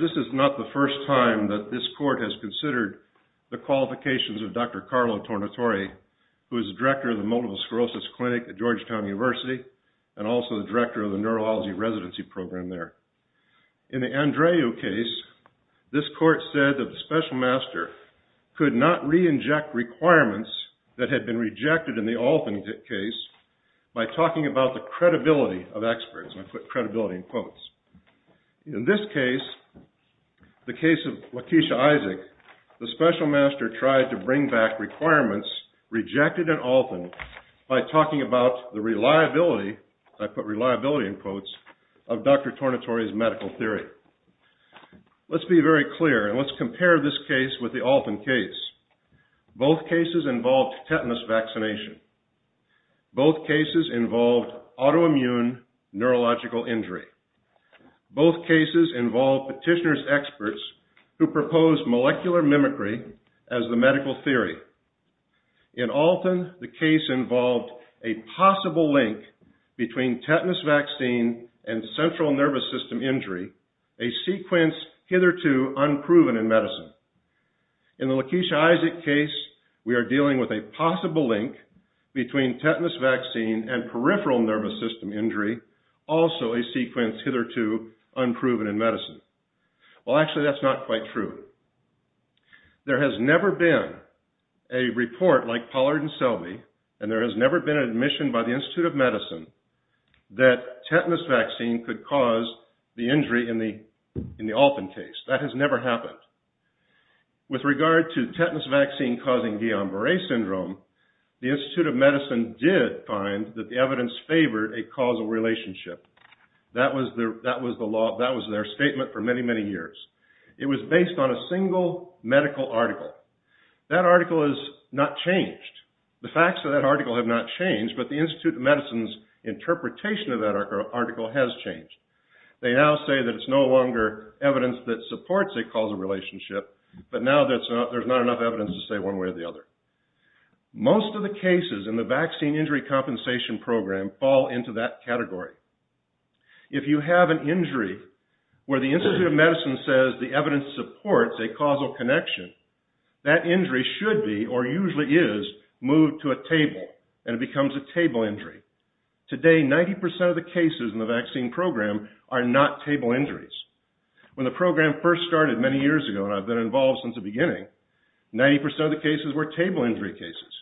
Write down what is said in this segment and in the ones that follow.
This is not the first time that this Court has considered the qualifications of Dr. Carlo Tornatore, who is the Director of the Multiple Sclerosis Clinic at Georgetown University and also the Director of the Neurology Residency Program there. In the Andreu case, this Court said that the Special Master could not re-inject requirements that had been rejected in the Alton case by talking about the credibility of experts. In this case, the case of Lakeisha Isaac, the Special Master tried to bring back requirements rejected in Alton by talking about the reliability of Dr. Tornatore's medical theory. Let's be very clear and let's compare this case with the Alton case. Both cases involved tetanus vaccination. Both cases involved autoimmune neurological injury. Both cases involved petitioner's experts who proposed molecular mimicry as the medical theory. In Alton, the case involved a possible link between tetanus vaccine and central nervous system injury, a sequence hitherto unproven in medicine. In the Lakeisha Isaac case, we are dealing with a possible link between tetanus vaccine and peripheral nervous system injury, also a sequence hitherto unproven in medicine. Well, actually that's not quite true. There has never been a report like Pollard and Selby and there has never been an admission by the Institute of Medicine that tetanus vaccine could cause the injury in the Alton case. That has never happened. With regard to tetanus vaccine causing Guillain-Barré syndrome, the Institute of Medicine did find that the evidence favored a causal relationship. That was their statement for many, many years. It was based on a single medical article. That article has not changed. The facts of that article have not changed, but the Institute of Medicine's interpretation of that article has changed. They now say that it's no longer evidence that supports a causal relationship, but now there's not enough evidence to say one way or the other. Most of the cases in the Vaccine Injury Compensation Program fall into that category. If you have an injury where the Institute of Medicine says the evidence supports a causal connection, that injury should be, or usually is, moved to a table and it becomes a table injury. Today, 90% of the cases in the vaccine program are not table injuries. When the program first started many years ago, and I've been involved since the beginning, 90% of the cases were table injury cases.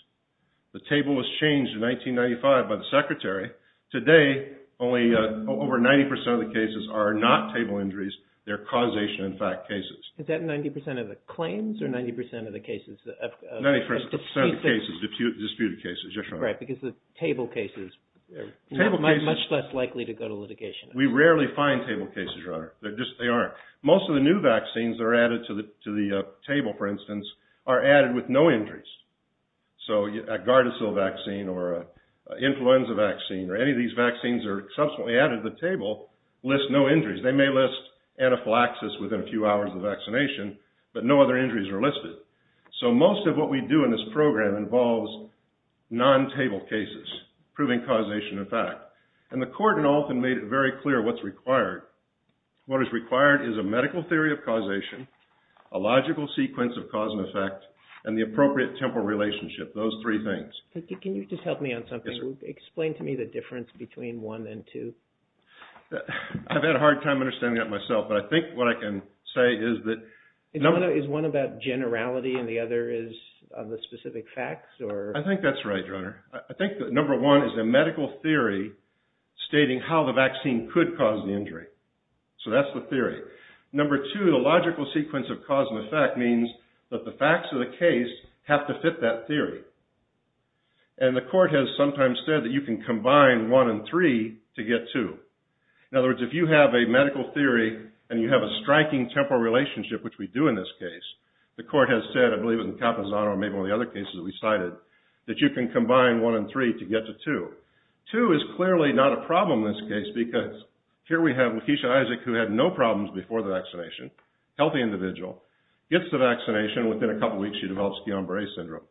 The table was changed in 1995 by the Secretary. Today, over 90% of the cases are not table injuries. They're causation-in-fact cases. Is that 90% of the claims, or 90% of the cases of disputed cases, Your Honor? Right, because the table cases are much less likely to go to litigation. We rarely find table cases, Your Honor. They aren't. Most of the new vaccines that are added to the table, for instance, are added with no injuries. So, a Gardasil vaccine, or an influenza vaccine, or any of these vaccines that are subsequently added to the table list no injuries. They may list anaphylaxis within a few hours of vaccination, but no other injuries are listed. So, most of what we do in this program involves non-table cases, proving causation-in-fact. And the Court, in often, made it very clear what's required. What is required is a medical theory of causation, a logical sequence of cause and effect, and the appropriate temporal relationship. Those three things. Can you just help me on something? Yes, sir. Explain to me the difference between one and two. I've had a hard time understanding that myself, but I think what I can say is that... Is one about generality, and the other is on the specific facts, or... I think that's right, Your Honor. I think that, number one, is a medical theory stating how the vaccine could cause the injury. So that's the theory. Number two, the logical sequence of cause and effect means that the facts of the case have to fit that theory. And the Court has sometimes said that you can combine one and three to get two. In other words, if you have a medical theory, and you have a striking temporal relationship, which we do in this case, the Court has said, I believe it was in Capizano, or maybe one of the other cases that we cited, that you can combine one and three to get to two. Two is clearly not a problem in this case, because here we have Lakeisha Isaac, who had no problems before the vaccination, healthy individual, gets the vaccination, and within a couple of weeks, she develops Guillain-Barre syndrome.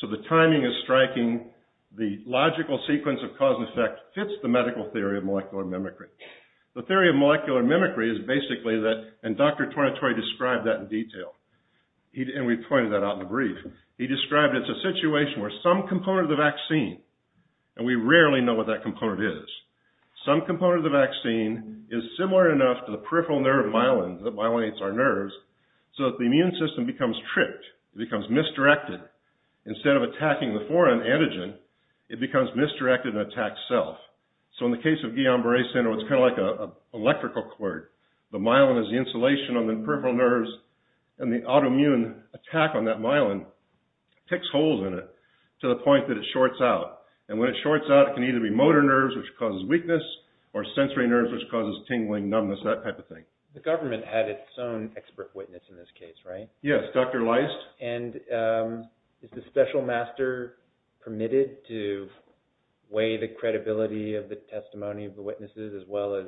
So the timing is striking, the logical sequence of cause and effect fits the medical theory of molecular mimicry. The theory of molecular mimicry is basically that, and Dr. Tornatoy described that in detail, and we pointed that out in the brief, he described it as a situation where some component of the vaccine, and we rarely know what that component is, some component of the vaccine is similar enough to the peripheral nerve myelin that myelinates our nerves, so that the immune system becomes tripped, it becomes misdirected, instead of attacking the foreign antigen, it becomes misdirected and attacks self. So in the case of Guillain-Barre syndrome, it's kind of like an electrical cord. The myelin is the insulation on the peripheral nerves, and the autoimmune attack on that myelin picks holes in it, to the point that it shorts out, and when it shorts out, it can either be motor nerves, which causes weakness, or sensory nerves, which causes tingling, numbness, that type of thing. The government had its own expert witness in this case, right? Yes, Dr. Leist. And is the special master permitted to weigh the credibility of the testimony of the witnesses, as well as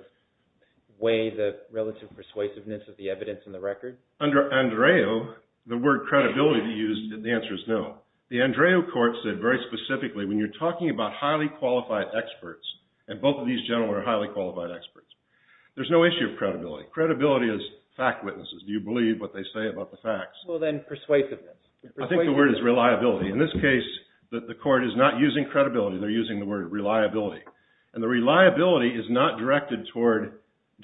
weigh the relative persuasiveness of the evidence in the record? Under ANDREO, the word credibility to use, the answer is no. The ANDREO court said very specifically, when you're talking about highly qualified experts, and both of these gentlemen are highly qualified experts, there's no issue of credibility. Credibility is fact witnesses. Do you believe what they say about the facts? Well then, persuasiveness. I think the word is reliability. In this case, the court is not using credibility, they're using the word reliability. And the reliability is not directed toward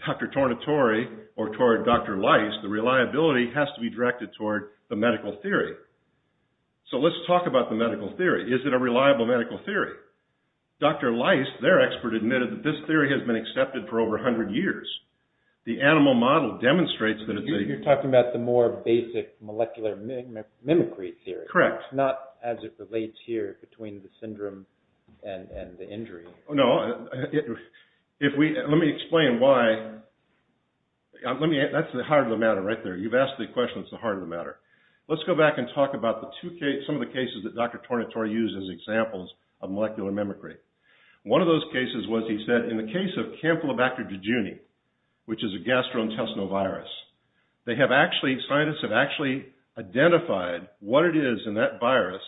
Dr. Tornatore, or toward Dr. Leist, the reliability has to be directed toward the medical theory. So let's talk about the medical theory. Is it a reliable medical theory? Dr. Leist, their expert, admitted that this theory has been accepted for over 100 years. The animal model demonstrates that it's a... You're talking about the more basic molecular mimicry theory. Correct. Not as it relates here, between the syndrome and the injury. No, let me explain why. That's the heart of the matter right there. You've asked the question, it's the heart of the matter. Let's go back and talk about some of the cases that Dr. Tornatore used as examples of molecular mimicry. One of those cases was, he said, in the case of Campylobacter dejuni, which is a gastrointestinal virus, they have actually, scientists have actually identified what it is in that virus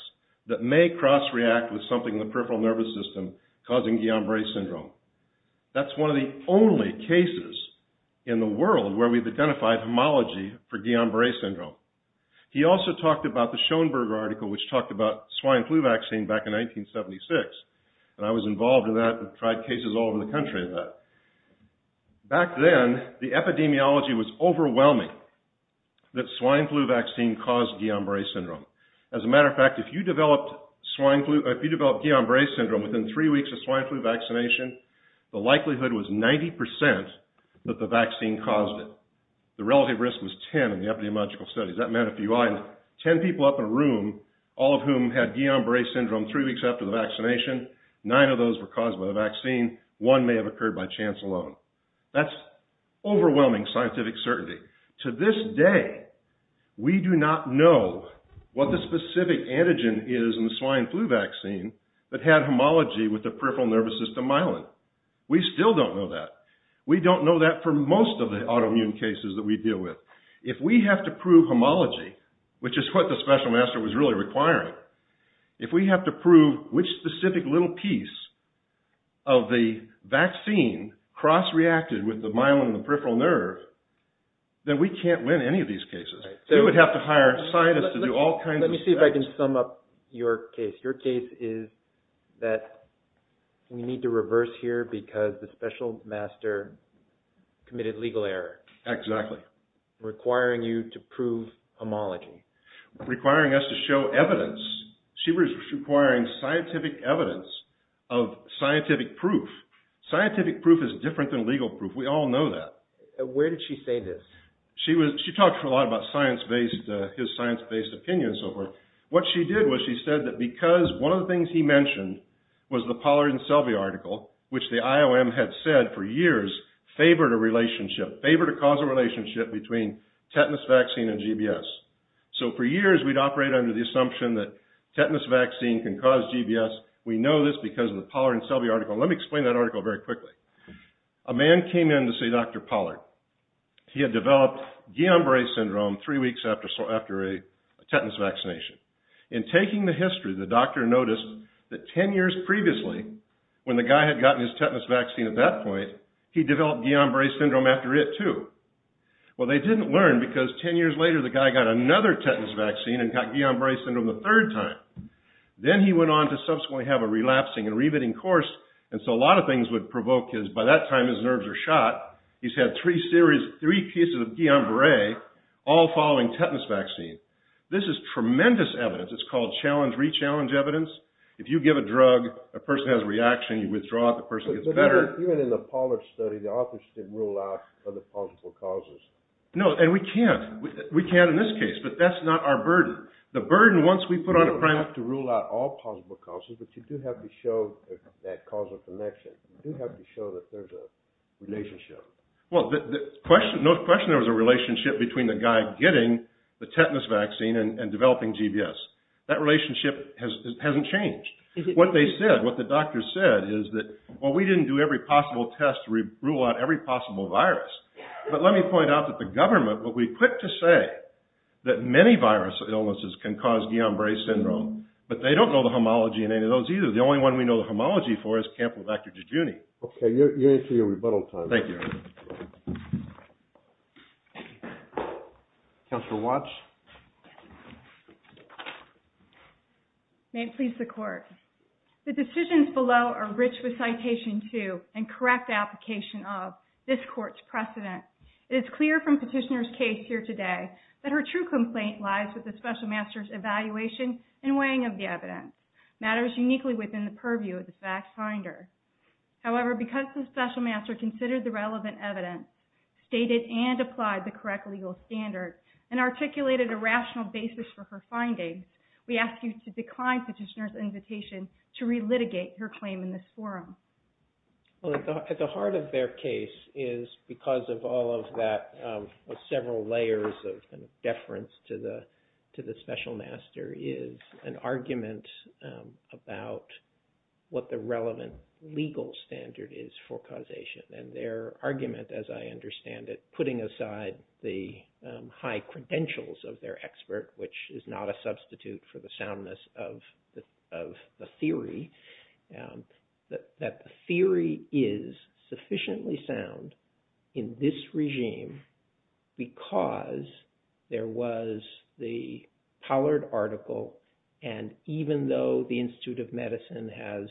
that may cross-react with something in the peripheral nervous system causing Guillain-Barré syndrome. That's one of the only cases in the world where we've identified homology for Guillain-Barré syndrome. He also talked about the Schoenberg article, which talked about swine flu vaccine back in 1976, and I was involved in that and tried cases all over the country of that. Back then, the epidemiology was overwhelming that swine flu vaccine caused Guillain-Barré syndrome. As a matter of fact, if you developed Guillain-Barré syndrome within three weeks of swine flu vaccination, the likelihood was 90% that the vaccine caused it. The relative risk was 10 in the epidemiological studies. That meant a few items. Ten people up in a room, all of whom had Guillain-Barré syndrome three weeks after the vaccination, nine of those were caused by the vaccine, one may have occurred by chance alone. That's overwhelming scientific certainty. To this day, we do not know what the specific antigen is in the swine flu vaccine that had homology with the peripheral nervous system myelin. We still don't know that. We don't know that for most of the autoimmune cases that we deal with. If we have to prove homology, which is what the special master was really requiring, if we have to prove which specific little piece of the vaccine cross-reacted with the myelin and the peripheral nerve, then we can't win any of these cases. We would have to hire a scientist to do all kinds of tests. Let me see if I can sum up your case. Your case is that we need to reverse here because the special master committed legal error. Exactly. Requiring you to prove homology. Requiring us to show evidence. She was requiring scientific evidence of scientific proof. Scientific proof is different than legal proof. We all know that. Where did she say this? She talked a lot about his science-based opinion and so forth. What she did was she said that because one of the things he mentioned was the Pollard and Selvey article, which the IOM had said for years favored a causal relationship between tetanus vaccine and GBS. For years, we'd operate under the assumption that tetanus vaccine can cause GBS. We know this because of the Pollard and Selvey article. Let me explain that article very quickly. A man came in to see Dr. Pollard. He had developed Guillain-Barre syndrome three weeks after a tetanus vaccination. In taking the history, the doctor noticed that 10 years previously, when the guy had gotten his tetanus vaccine at that point, he developed Guillain-Barre syndrome after it too. Well, they didn't learn because 10 years later, the guy got another tetanus vaccine and got Guillain-Barre syndrome the third time. Then he went on to subsequently have a relapsing and re-bitting course, and so a lot of things would provoke his... By that time, his nerves are shot. He's had three pieces of Guillain-Barre all following tetanus vaccine. This is tremendous evidence. It's called challenge-re-challenge evidence. If you give a drug, a person has a reaction, you withdraw it, the person gets better. Even in the Pollard study, the authors didn't rule out other possible causes. No, and we can't. We can't in this case, but that's not our burden. The burden, once we put on a... You don't have to rule out all possible causes, but you do have to show that causal connection. You do have to show that there's a relationship. Well, no question there was a relationship between the guy getting the tetanus vaccine and developing GBS. That relationship hasn't changed. What they said, what the doctors said, is that, well, we didn't do every possible test to rule out every possible virus, but let me point out that the government, what we put to say, that many virus illnesses can cause Guillain-Barre syndrome, but they don't know the homology in any of those either. The only one we know the homology for is Campylobacter jejuni. Okay, you're into your rebuttal time. Thank you. Counselor Watts? Yes. May it please the court. The decisions below are rich with citation two and correct application of this court's precedent. It is clear from petitioner's case here today that her true complaint lies with the special master's evaluation and weighing of the evidence. Matters uniquely within the purview of the fact finder. However, because the special master considered the relevant evidence, stated and applied the correct legal standard, and articulated a rational basis for her findings, we ask you to decline petitioner's invitation to re-litigate her claim in this forum. Well, at the heart of their case is, because of all of that, of several layers of deference to the special master, is an argument about what the relevant legal standard is for causation. And their argument, as I understand it, putting aside the high credentials of their expert, which is not a substitute for the soundness of the theory, that the theory is sufficiently sound in this regime because there was the Pollard article, and even though the Institute of Medicine has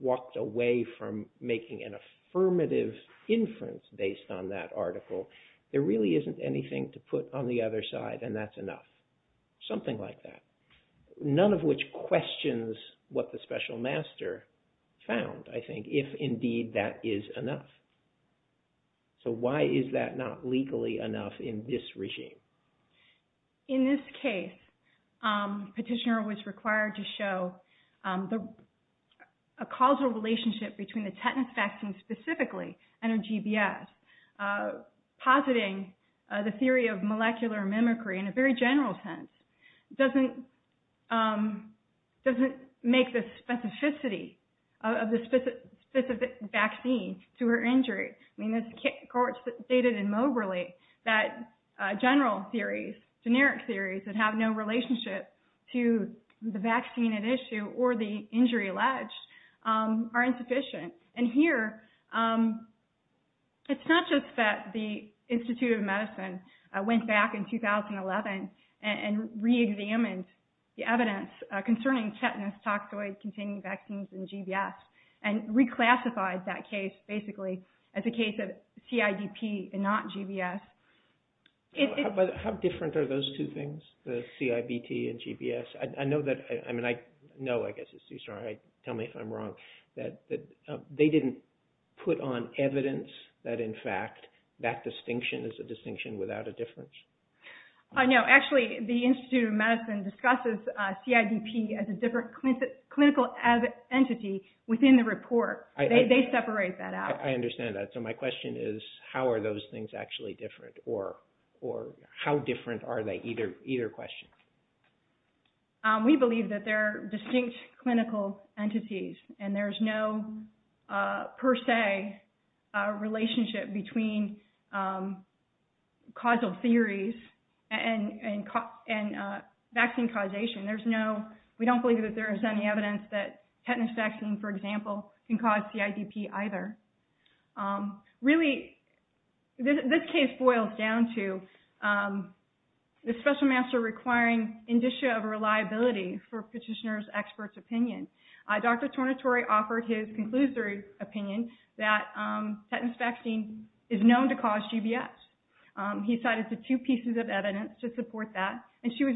walked away from making an affirmative inference based on that article, there really isn't anything to put on the other side, and that's enough. Something like that. None of which questions what the special master found, I think, if indeed that is enough. So why is that not legally enough in this regime? In this case, petitioner was required to show a causal relationship between the tetanus vaccine specifically, and her GBS, positing the theory of molecular mimicry in a very general sense, doesn't make the specificity of the specific vaccine to her injury. I mean, the court stated immoberly that general theories, generic theories that have no relationship to the vaccine at issue or the injury alleged are insufficient. And here, it's not just that the Institute of Medicine went back in 2011 and reexamined the evidence concerning tetanus toxoid containing vaccines and GBS, and reclassified that case basically as a case of CIDP and not GBS. But how different are those two things, the CIBT and GBS? I know that, I mean, I know, I guess it's too strong, tell me if I'm wrong, that they didn't put on evidence that, in fact, that distinction is a distinction without a difference. No, actually, the Institute of Medicine discusses CIDP as a different clinical entity within the report. They separate that out. I understand that. So my question is, how are those things actually different, or how different are they? Either question. We believe that they're distinct clinical entities, and there's no per se relationship between causal theories and vaccine causation. We don't believe that there is any evidence that tetanus vaccine, for example, can cause CIDP either. Really, this case boils down to the special master requiring indicia of reliability for petitioner's expert's opinion. Dr. Tornatore offered his conclusory opinion that tetanus vaccine is known to cause GBS. He cited the two pieces of evidence to support that, and she was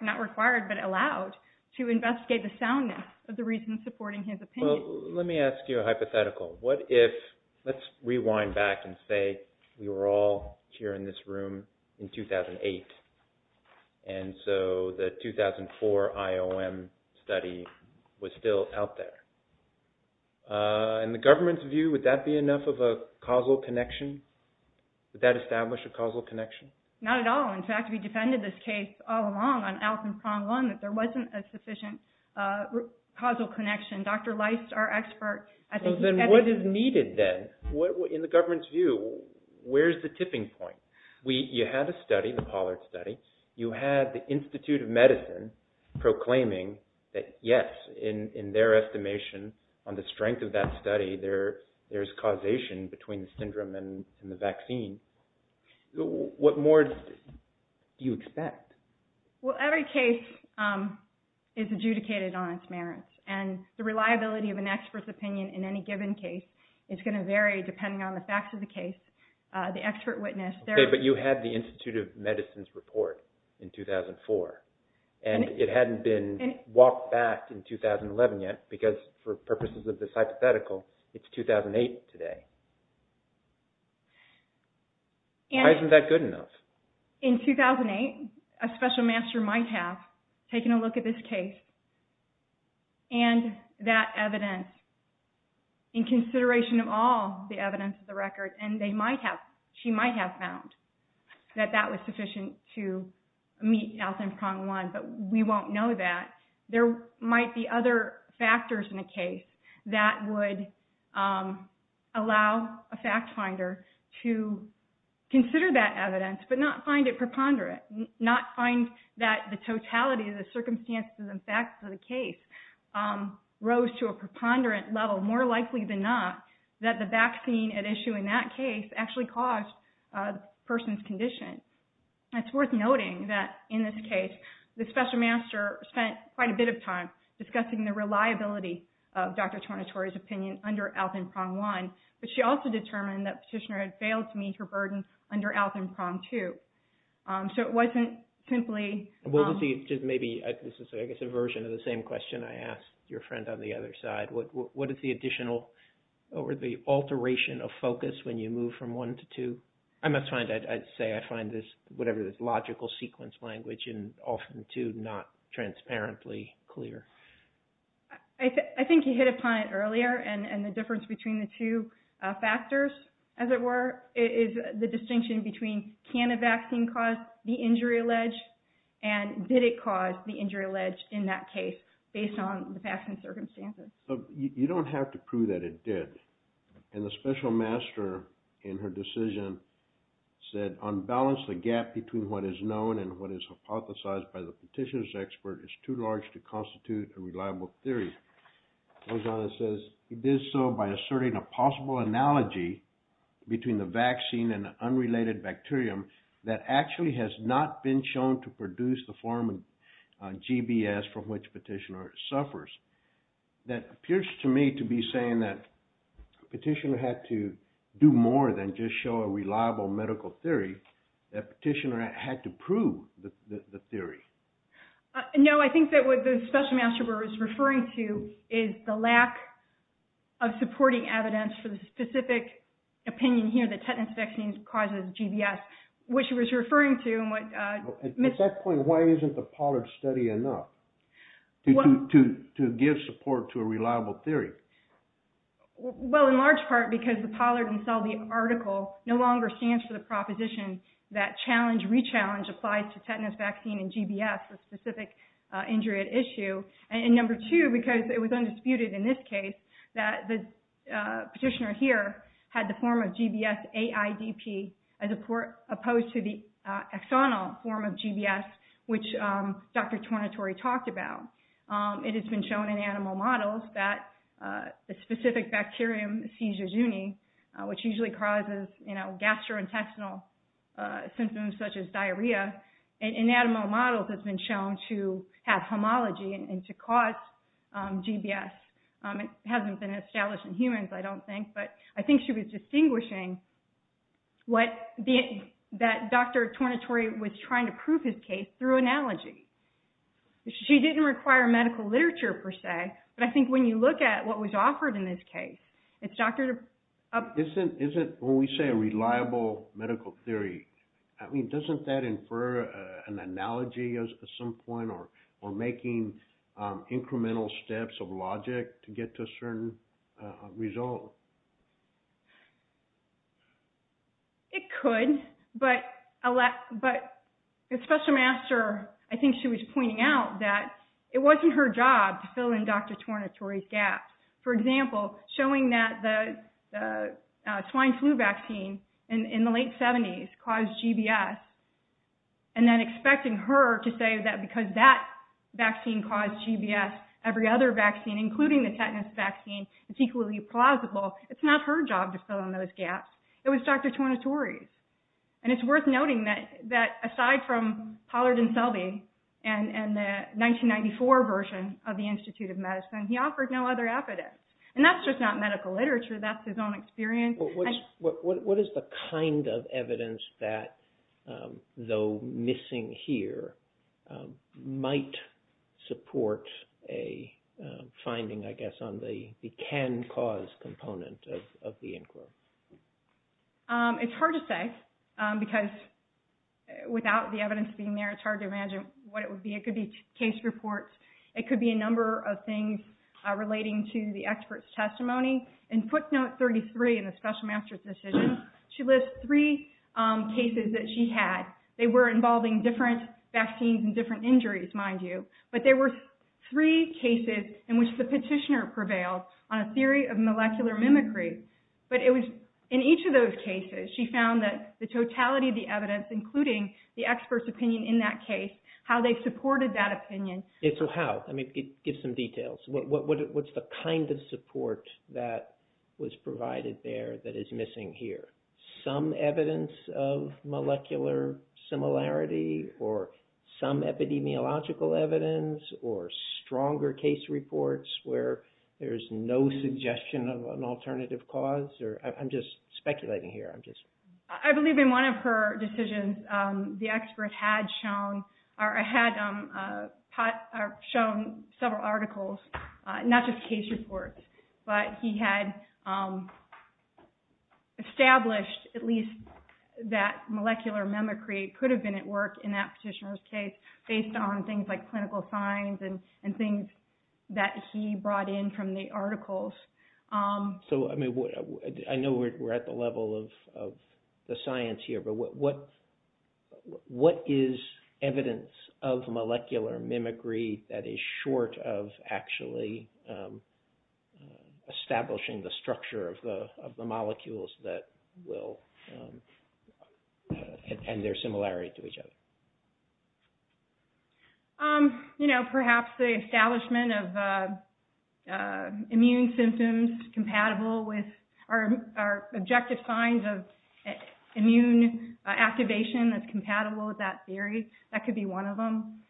not required, but allowed to investigate the soundness of the reasons supporting his opinion. Well, let me ask you a hypothetical. What if, let's rewind back and say we were all here in this room in 2008, and so the 2004 IOM study was still out there. In the government's view, would that be enough of a causal connection? Would that establish a causal connection? Not at all. In fact, we defended this case all along on Allison's prong one, that there wasn't a sufficient causal connection. Dr. Leist, our expert, I think he's evidence- Well, then what is needed then? In the government's view, where's the tipping point? You had a study, the Pollard study. You had the Institute of Medicine proclaiming that, yes, in their estimation on the strength of that study, there's causation between the syndrome and the vaccine. What more do you expect? Well, every case is adjudicated on its merits, and the reliability of an expert's opinion in any given case is going to vary depending on the facts of the case. The expert witness- Okay, but you had the Institute of Medicine's report in 2004, and it hadn't been walked back in 2011 yet, because for purposes of this hypothetical, it's 2008 today. Why isn't that good enough? In 2008, a special master might have taken a look at this case, and that evidence, in fact, that that was sufficient to meet health in prong one, but we won't know that. There might be other factors in a case that would allow a fact finder to consider that evidence, but not find it preponderant, not find that the totality of the circumstances and facts of the case rose to a preponderant level, more likely than not, that the vaccine at issue in that case actually caused the person's condition. It's worth noting that, in this case, the special master spent quite a bit of time discussing the reliability of Dr. Tornatore's opinion under health in prong one, but she also determined that Petitioner had failed to meet her burden under health in prong two. So it wasn't simply- Well, this is maybe, I guess, a version of the same question I asked your friend on the other side. What is the additional, or the alteration of focus when you move from one to two? I must find, I'd say I find this, whatever this logical sequence language, and often too, not transparently clear. I think you hit upon it earlier, and the difference between the two factors, as it were, is the distinction between can a vaccine cause the injury alleged, and did it cause the injury You don't have to prove that it did. And the special master, in her decision, said, unbalance the gap between what is known and what is hypothesized by the Petitioner's expert is too large to constitute a reliable theory. Goes on and says, he did so by asserting a possible analogy between the vaccine and the unrelated bacterium that actually has not been shown to produce the form of GBS from which Petitioner suffers. That appears to me to be saying that Petitioner had to do more than just show a reliable medical theory, that Petitioner had to prove the theory. No, I think that what the special master was referring to is the lack of supporting evidence for the specific opinion here that tetanus vaccine causes GBS, which he was referring to- At that point, why isn't the Pollard study enough to give support to a reliable theory? Well, in large part, because the Pollard and Selby article no longer stands for the proposition that challenge, re-challenge applies to tetanus vaccine and GBS, a specific injury at issue. And number two, because it was undisputed in this case that the Petitioner here had the form of GBS-AIDP as opposed to the axonal form of GBS, which Dr. Tornatore talked about. It has been shown in animal models that the specific bacterium, Seizure Juni, which usually causes gastrointestinal symptoms such as diarrhea, in animal models has been shown to have homology and to cause GBS. It hasn't been established in humans, I don't think, but I think she was distinguishing that Dr. Tornatore was trying to prove his case through analogy. She didn't require medical literature per se, but I think when you look at what was offered in this case, it's Dr.- Isn't, when we say a reliable medical theory, I mean, doesn't that infer an analogy at some logic to get to a certain result? It could, but Special Master, I think she was pointing out that it wasn't her job to fill in Dr. Tornatore's gaps. For example, showing that the swine flu vaccine in the late 70s caused GBS and then expecting her to say that because that vaccine caused GBS, every other vaccine, including the tetanus vaccine, is equally plausible, it's not her job to fill in those gaps. It was Dr. Tornatore's. And it's worth noting that aside from Pollard and Selby and the 1994 version of the Institute of Medicine, he offered no other evidence. And that's just not medical literature, that's his own experience. What is the kind of evidence that, though missing here, might support a finding, I guess, on the can-cause component of the inquiry? It's hard to say because without the evidence being there, it's hard to imagine what it would be. It could be case reports, it could be a number of things relating to the expert's testimony. In footnote 33 in the special master's decision, she lists three cases that she had. They were involving different vaccines and different injuries, mind you. But there were three cases in which the petitioner prevailed on a theory of molecular mimicry. But in each of those cases, she found that the totality of the evidence, including the expert's opinion in that case, how they supported that opinion. So how? Give some details. What's the kind of support that was provided there that is missing here? Some evidence of molecular similarity, or some epidemiological evidence, or stronger case reports where there's no suggestion of an alternative cause? I'm just speculating here. I believe in one of her decisions, the expert had shown several articles, not just case reports, but he had established at least that molecular mimicry could have been at work in that petitioner's case based on things like clinical signs and things that he brought in from the articles. So I know we're at the level of the science here, but what is evidence of molecular mimicry that is short of actually establishing the structure of the molecules and their similarity to each other? Perhaps the establishment of immune symptoms compatible with our objective signs of immune activation that's compatible with that theory. That could be one of them.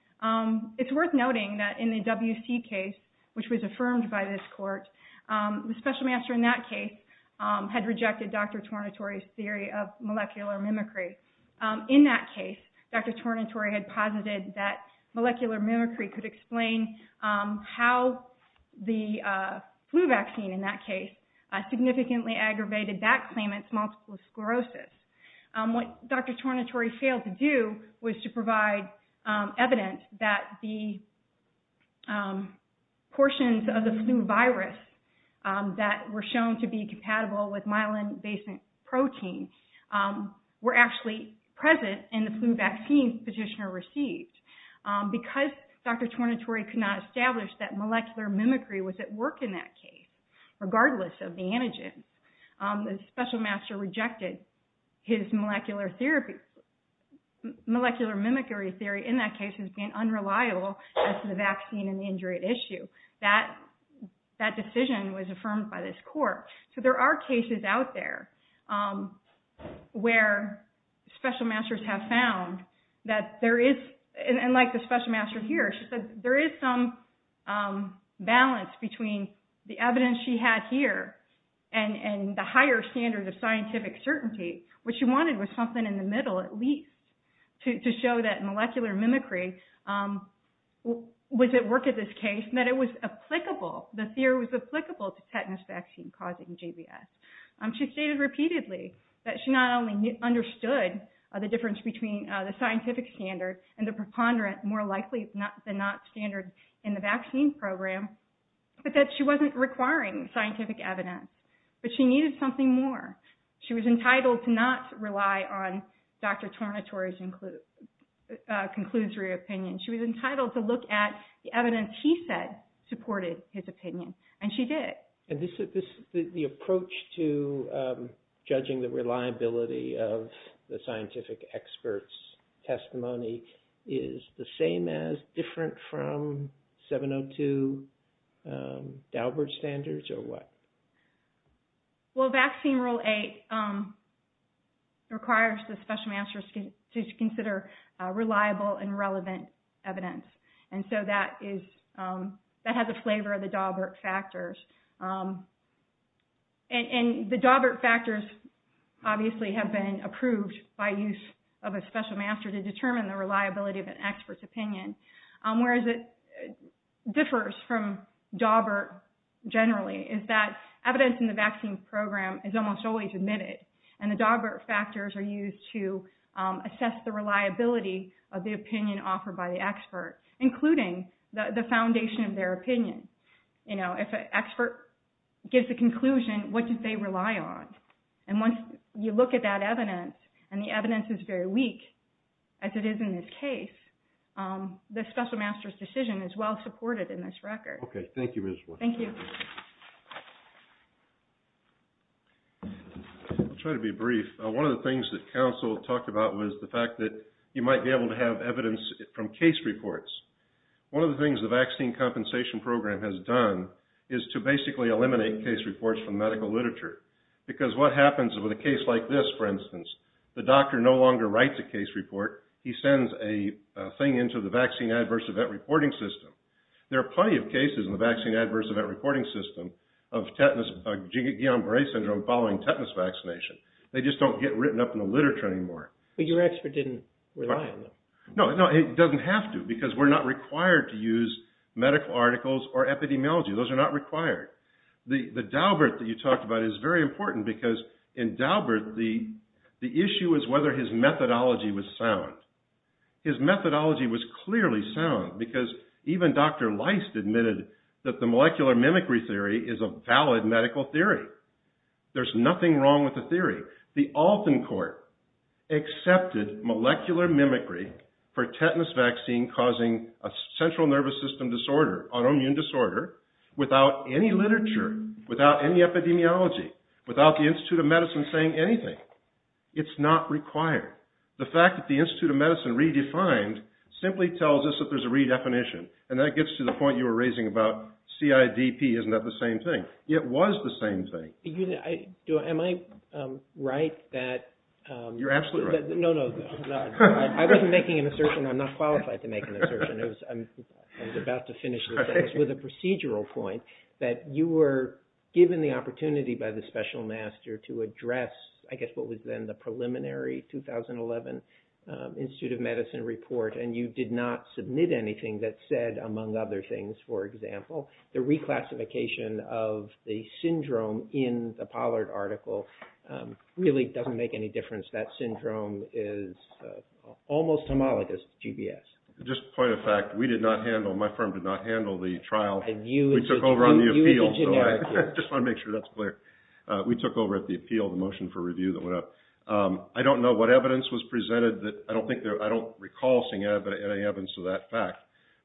It's worth noting that in the WC case, which was affirmed by this court, the special master in that case had rejected Dr. Tornatore's theory of molecular mimicry. In that case, Dr. Tornatore had posited that molecular mimicry could explain how the flu vaccine in that case significantly aggravated that claimant's multiple sclerosis. What Dr. Tornatore failed to do was to provide evidence that the portions of the flu virus that were shown to be compatible with myelin-basin protein were actually present in the flu vaccine the petitioner received. Because Dr. Tornatore could not establish that molecular mimicry was at work in that case, regardless of the antigen, the special master rejected his molecular mimicry theory in that case as being unreliable as to the vaccine and the injury at issue. That decision was affirmed by this court. There are cases out there where special masters have found that there is, and like the special master here, she said there is some balance between the evidence she had here and the higher standards of scientific certainty. What she wanted was something in the middle, at least, to show that molecular mimicry was applicable, the theory was applicable to tetanus vaccine causing JBS. She stated repeatedly that she not only understood the difference between the scientific standard and the preponderance more likely than not standard in the vaccine program, but that she wasn't requiring scientific evidence. But she needed something more. She was entitled to not rely on Dr. Tornatore's conclusory opinion. She was entitled to look at the evidence he said supported his opinion, and she did. And the approach to judging the reliability of the scientific expert's testimony is the same as, different from 702 Daubert standards, or what? Well, Vaccine Rule 8 requires the special masters to consider reliable and relevant evidence. And so that is, that has a flavor of the Daubert factors. And the Daubert factors obviously have been approved by use of a special master to determine the reliability of an expert's opinion. Whereas it differs from Daubert generally, is that evidence in the vaccine program is almost always admitted. And the Daubert factors are used to assess the reliability of the opinion offered by the expert, including the foundation of their opinion. If an expert gives a conclusion, what did they rely on? And once you look at that evidence, and the evidence is very weak, as it is in this case, the special master's decision is well supported in this record. Okay, thank you, Ms. White. Thank you. I'll try to be brief. One of the things that counsel talked about was the fact that you might be able to have evidence from case reports. One of the things the vaccine compensation program has done is to basically eliminate case reports from medical literature. Because what happens with a case like this, for instance, the doctor no longer writes a case report. He sends a thing into the vaccine adverse event reporting system. There are plenty of cases in the vaccine adverse event reporting system of tetanus, Guillain-Barre syndrome, following tetanus vaccination. They just don't get written up in the literature anymore. But your expert didn't rely on them. No, it doesn't have to, because we're not required to use medical articles or epidemiology. Those are not required. The Daubert that you talked about is very important, because in Daubert, the issue is whether his methodology was sound. His methodology was clearly sound, because even Dr. Leist admitted that the molecular mimicry theory is a valid medical theory. There's nothing wrong with the theory. The Alton Court accepted molecular mimicry for tetanus vaccine causing a central nervous system disorder, autoimmune disorder, without any literature, without any epidemiology, without the Institute of Medicine saying anything. It's not required. The fact that the Institute of Medicine redefined simply tells us that there's a redefinition. And that gets to the point you were raising about CIDP. Isn't that the same thing? It was the same thing. Am I right that... You're absolutely right. No, no. I wasn't making an assertion. I'm not qualified to make an assertion. I was about to finish with a procedural point, that you were given the opportunity by the special master to address, I guess, what was then the preliminary 2011 Institute of Medicine report. And you did not submit anything that said, among other things, for example, the reclassification of the syndrome in the Pollard article really doesn't make any difference. That syndrome is almost homologous to GBS. Just a point of fact, we did not handle, my firm did not handle the trial. We took over on the appeal. I just want to make sure that's clear. We took over at the appeal, the motion for review that went up. I don't know what evidence was presented. I don't recall seeing any evidence of that fact.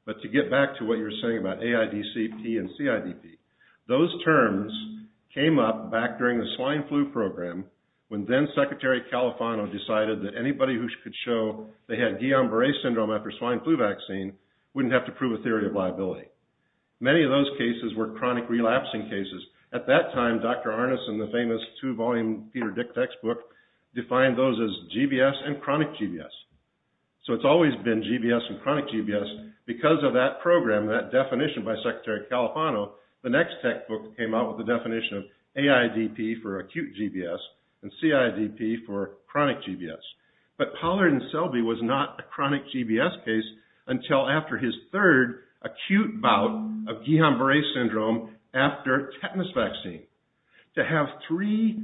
But to get back to what you were saying about AIDCP and CIDP, those terms came up back during the swine flu program when then-Secretary Califano decided that anybody who could show they had Guillain-Barre syndrome after swine flu vaccine wouldn't have to prove a theory of liability. Many of those cases were chronic relapsing cases. At that time, Dr. Arnes and the famous two-volume Peter Dick textbook defined those as GBS and chronic GBS. So it's always been GBS and chronic GBS. Because of that program, that definition by Secretary Califano, the next textbook came out with the definition of AIDP for acute GBS and CIDP for chronic GBS. But Pollard and Selby was not a chronic GBS case until after his third acute bout of Guillain-Barre syndrome after tetanus vaccine. To have three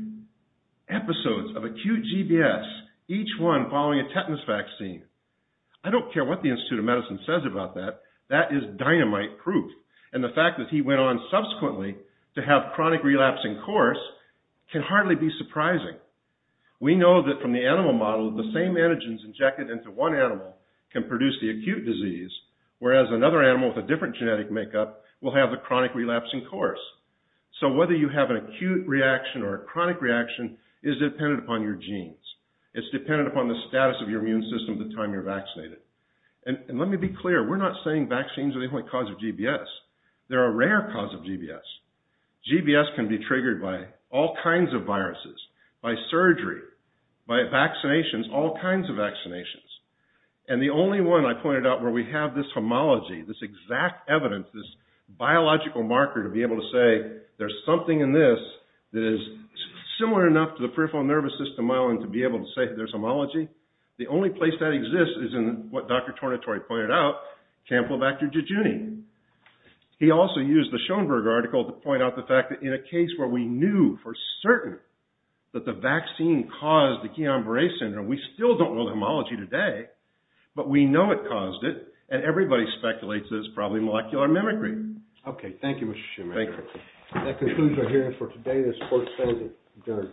episodes of acute GBS, each one following a tetanus vaccine. I don't care what the Institute of Medicine says about that. That is dynamite proof. And the fact that he went on subsequently to have chronic relapsing course can hardly be surprising. We know that from the animal model, the same antigens injected into one animal can produce the acute disease, whereas another animal with a different genetic makeup will have a chronic relapsing course. So whether you have an acute reaction or a chronic reaction is dependent upon your genes. It's dependent upon the status of your immune system at the time you're vaccinated. And let me be clear, we're not saying vaccines are the only cause of GBS. They're a rare cause of GBS. GBS can be triggered by all kinds of viruses, by surgery, by vaccinations, all kinds of vaccinations. And the only one I pointed out where we have this homology, this exact evidence, this biological marker to be able to say there's something in this that is similar enough to the peripheral nervous system island to be able to say there's homology, the only place that exists is in what Dr. Tornatore pointed out, Campylobacter jejuni. He also used the Schoenberg article to point out the fact that in a case where we knew for certain that the vaccine caused the Guillain-Barre syndrome, we still don't know the homology today, but we know it caused it, and everybody speculates that it's probably molecular mimicry. Okay, thank you, Mr. Shimmer. Thank you. That concludes our hearing for today. This court is adjourned.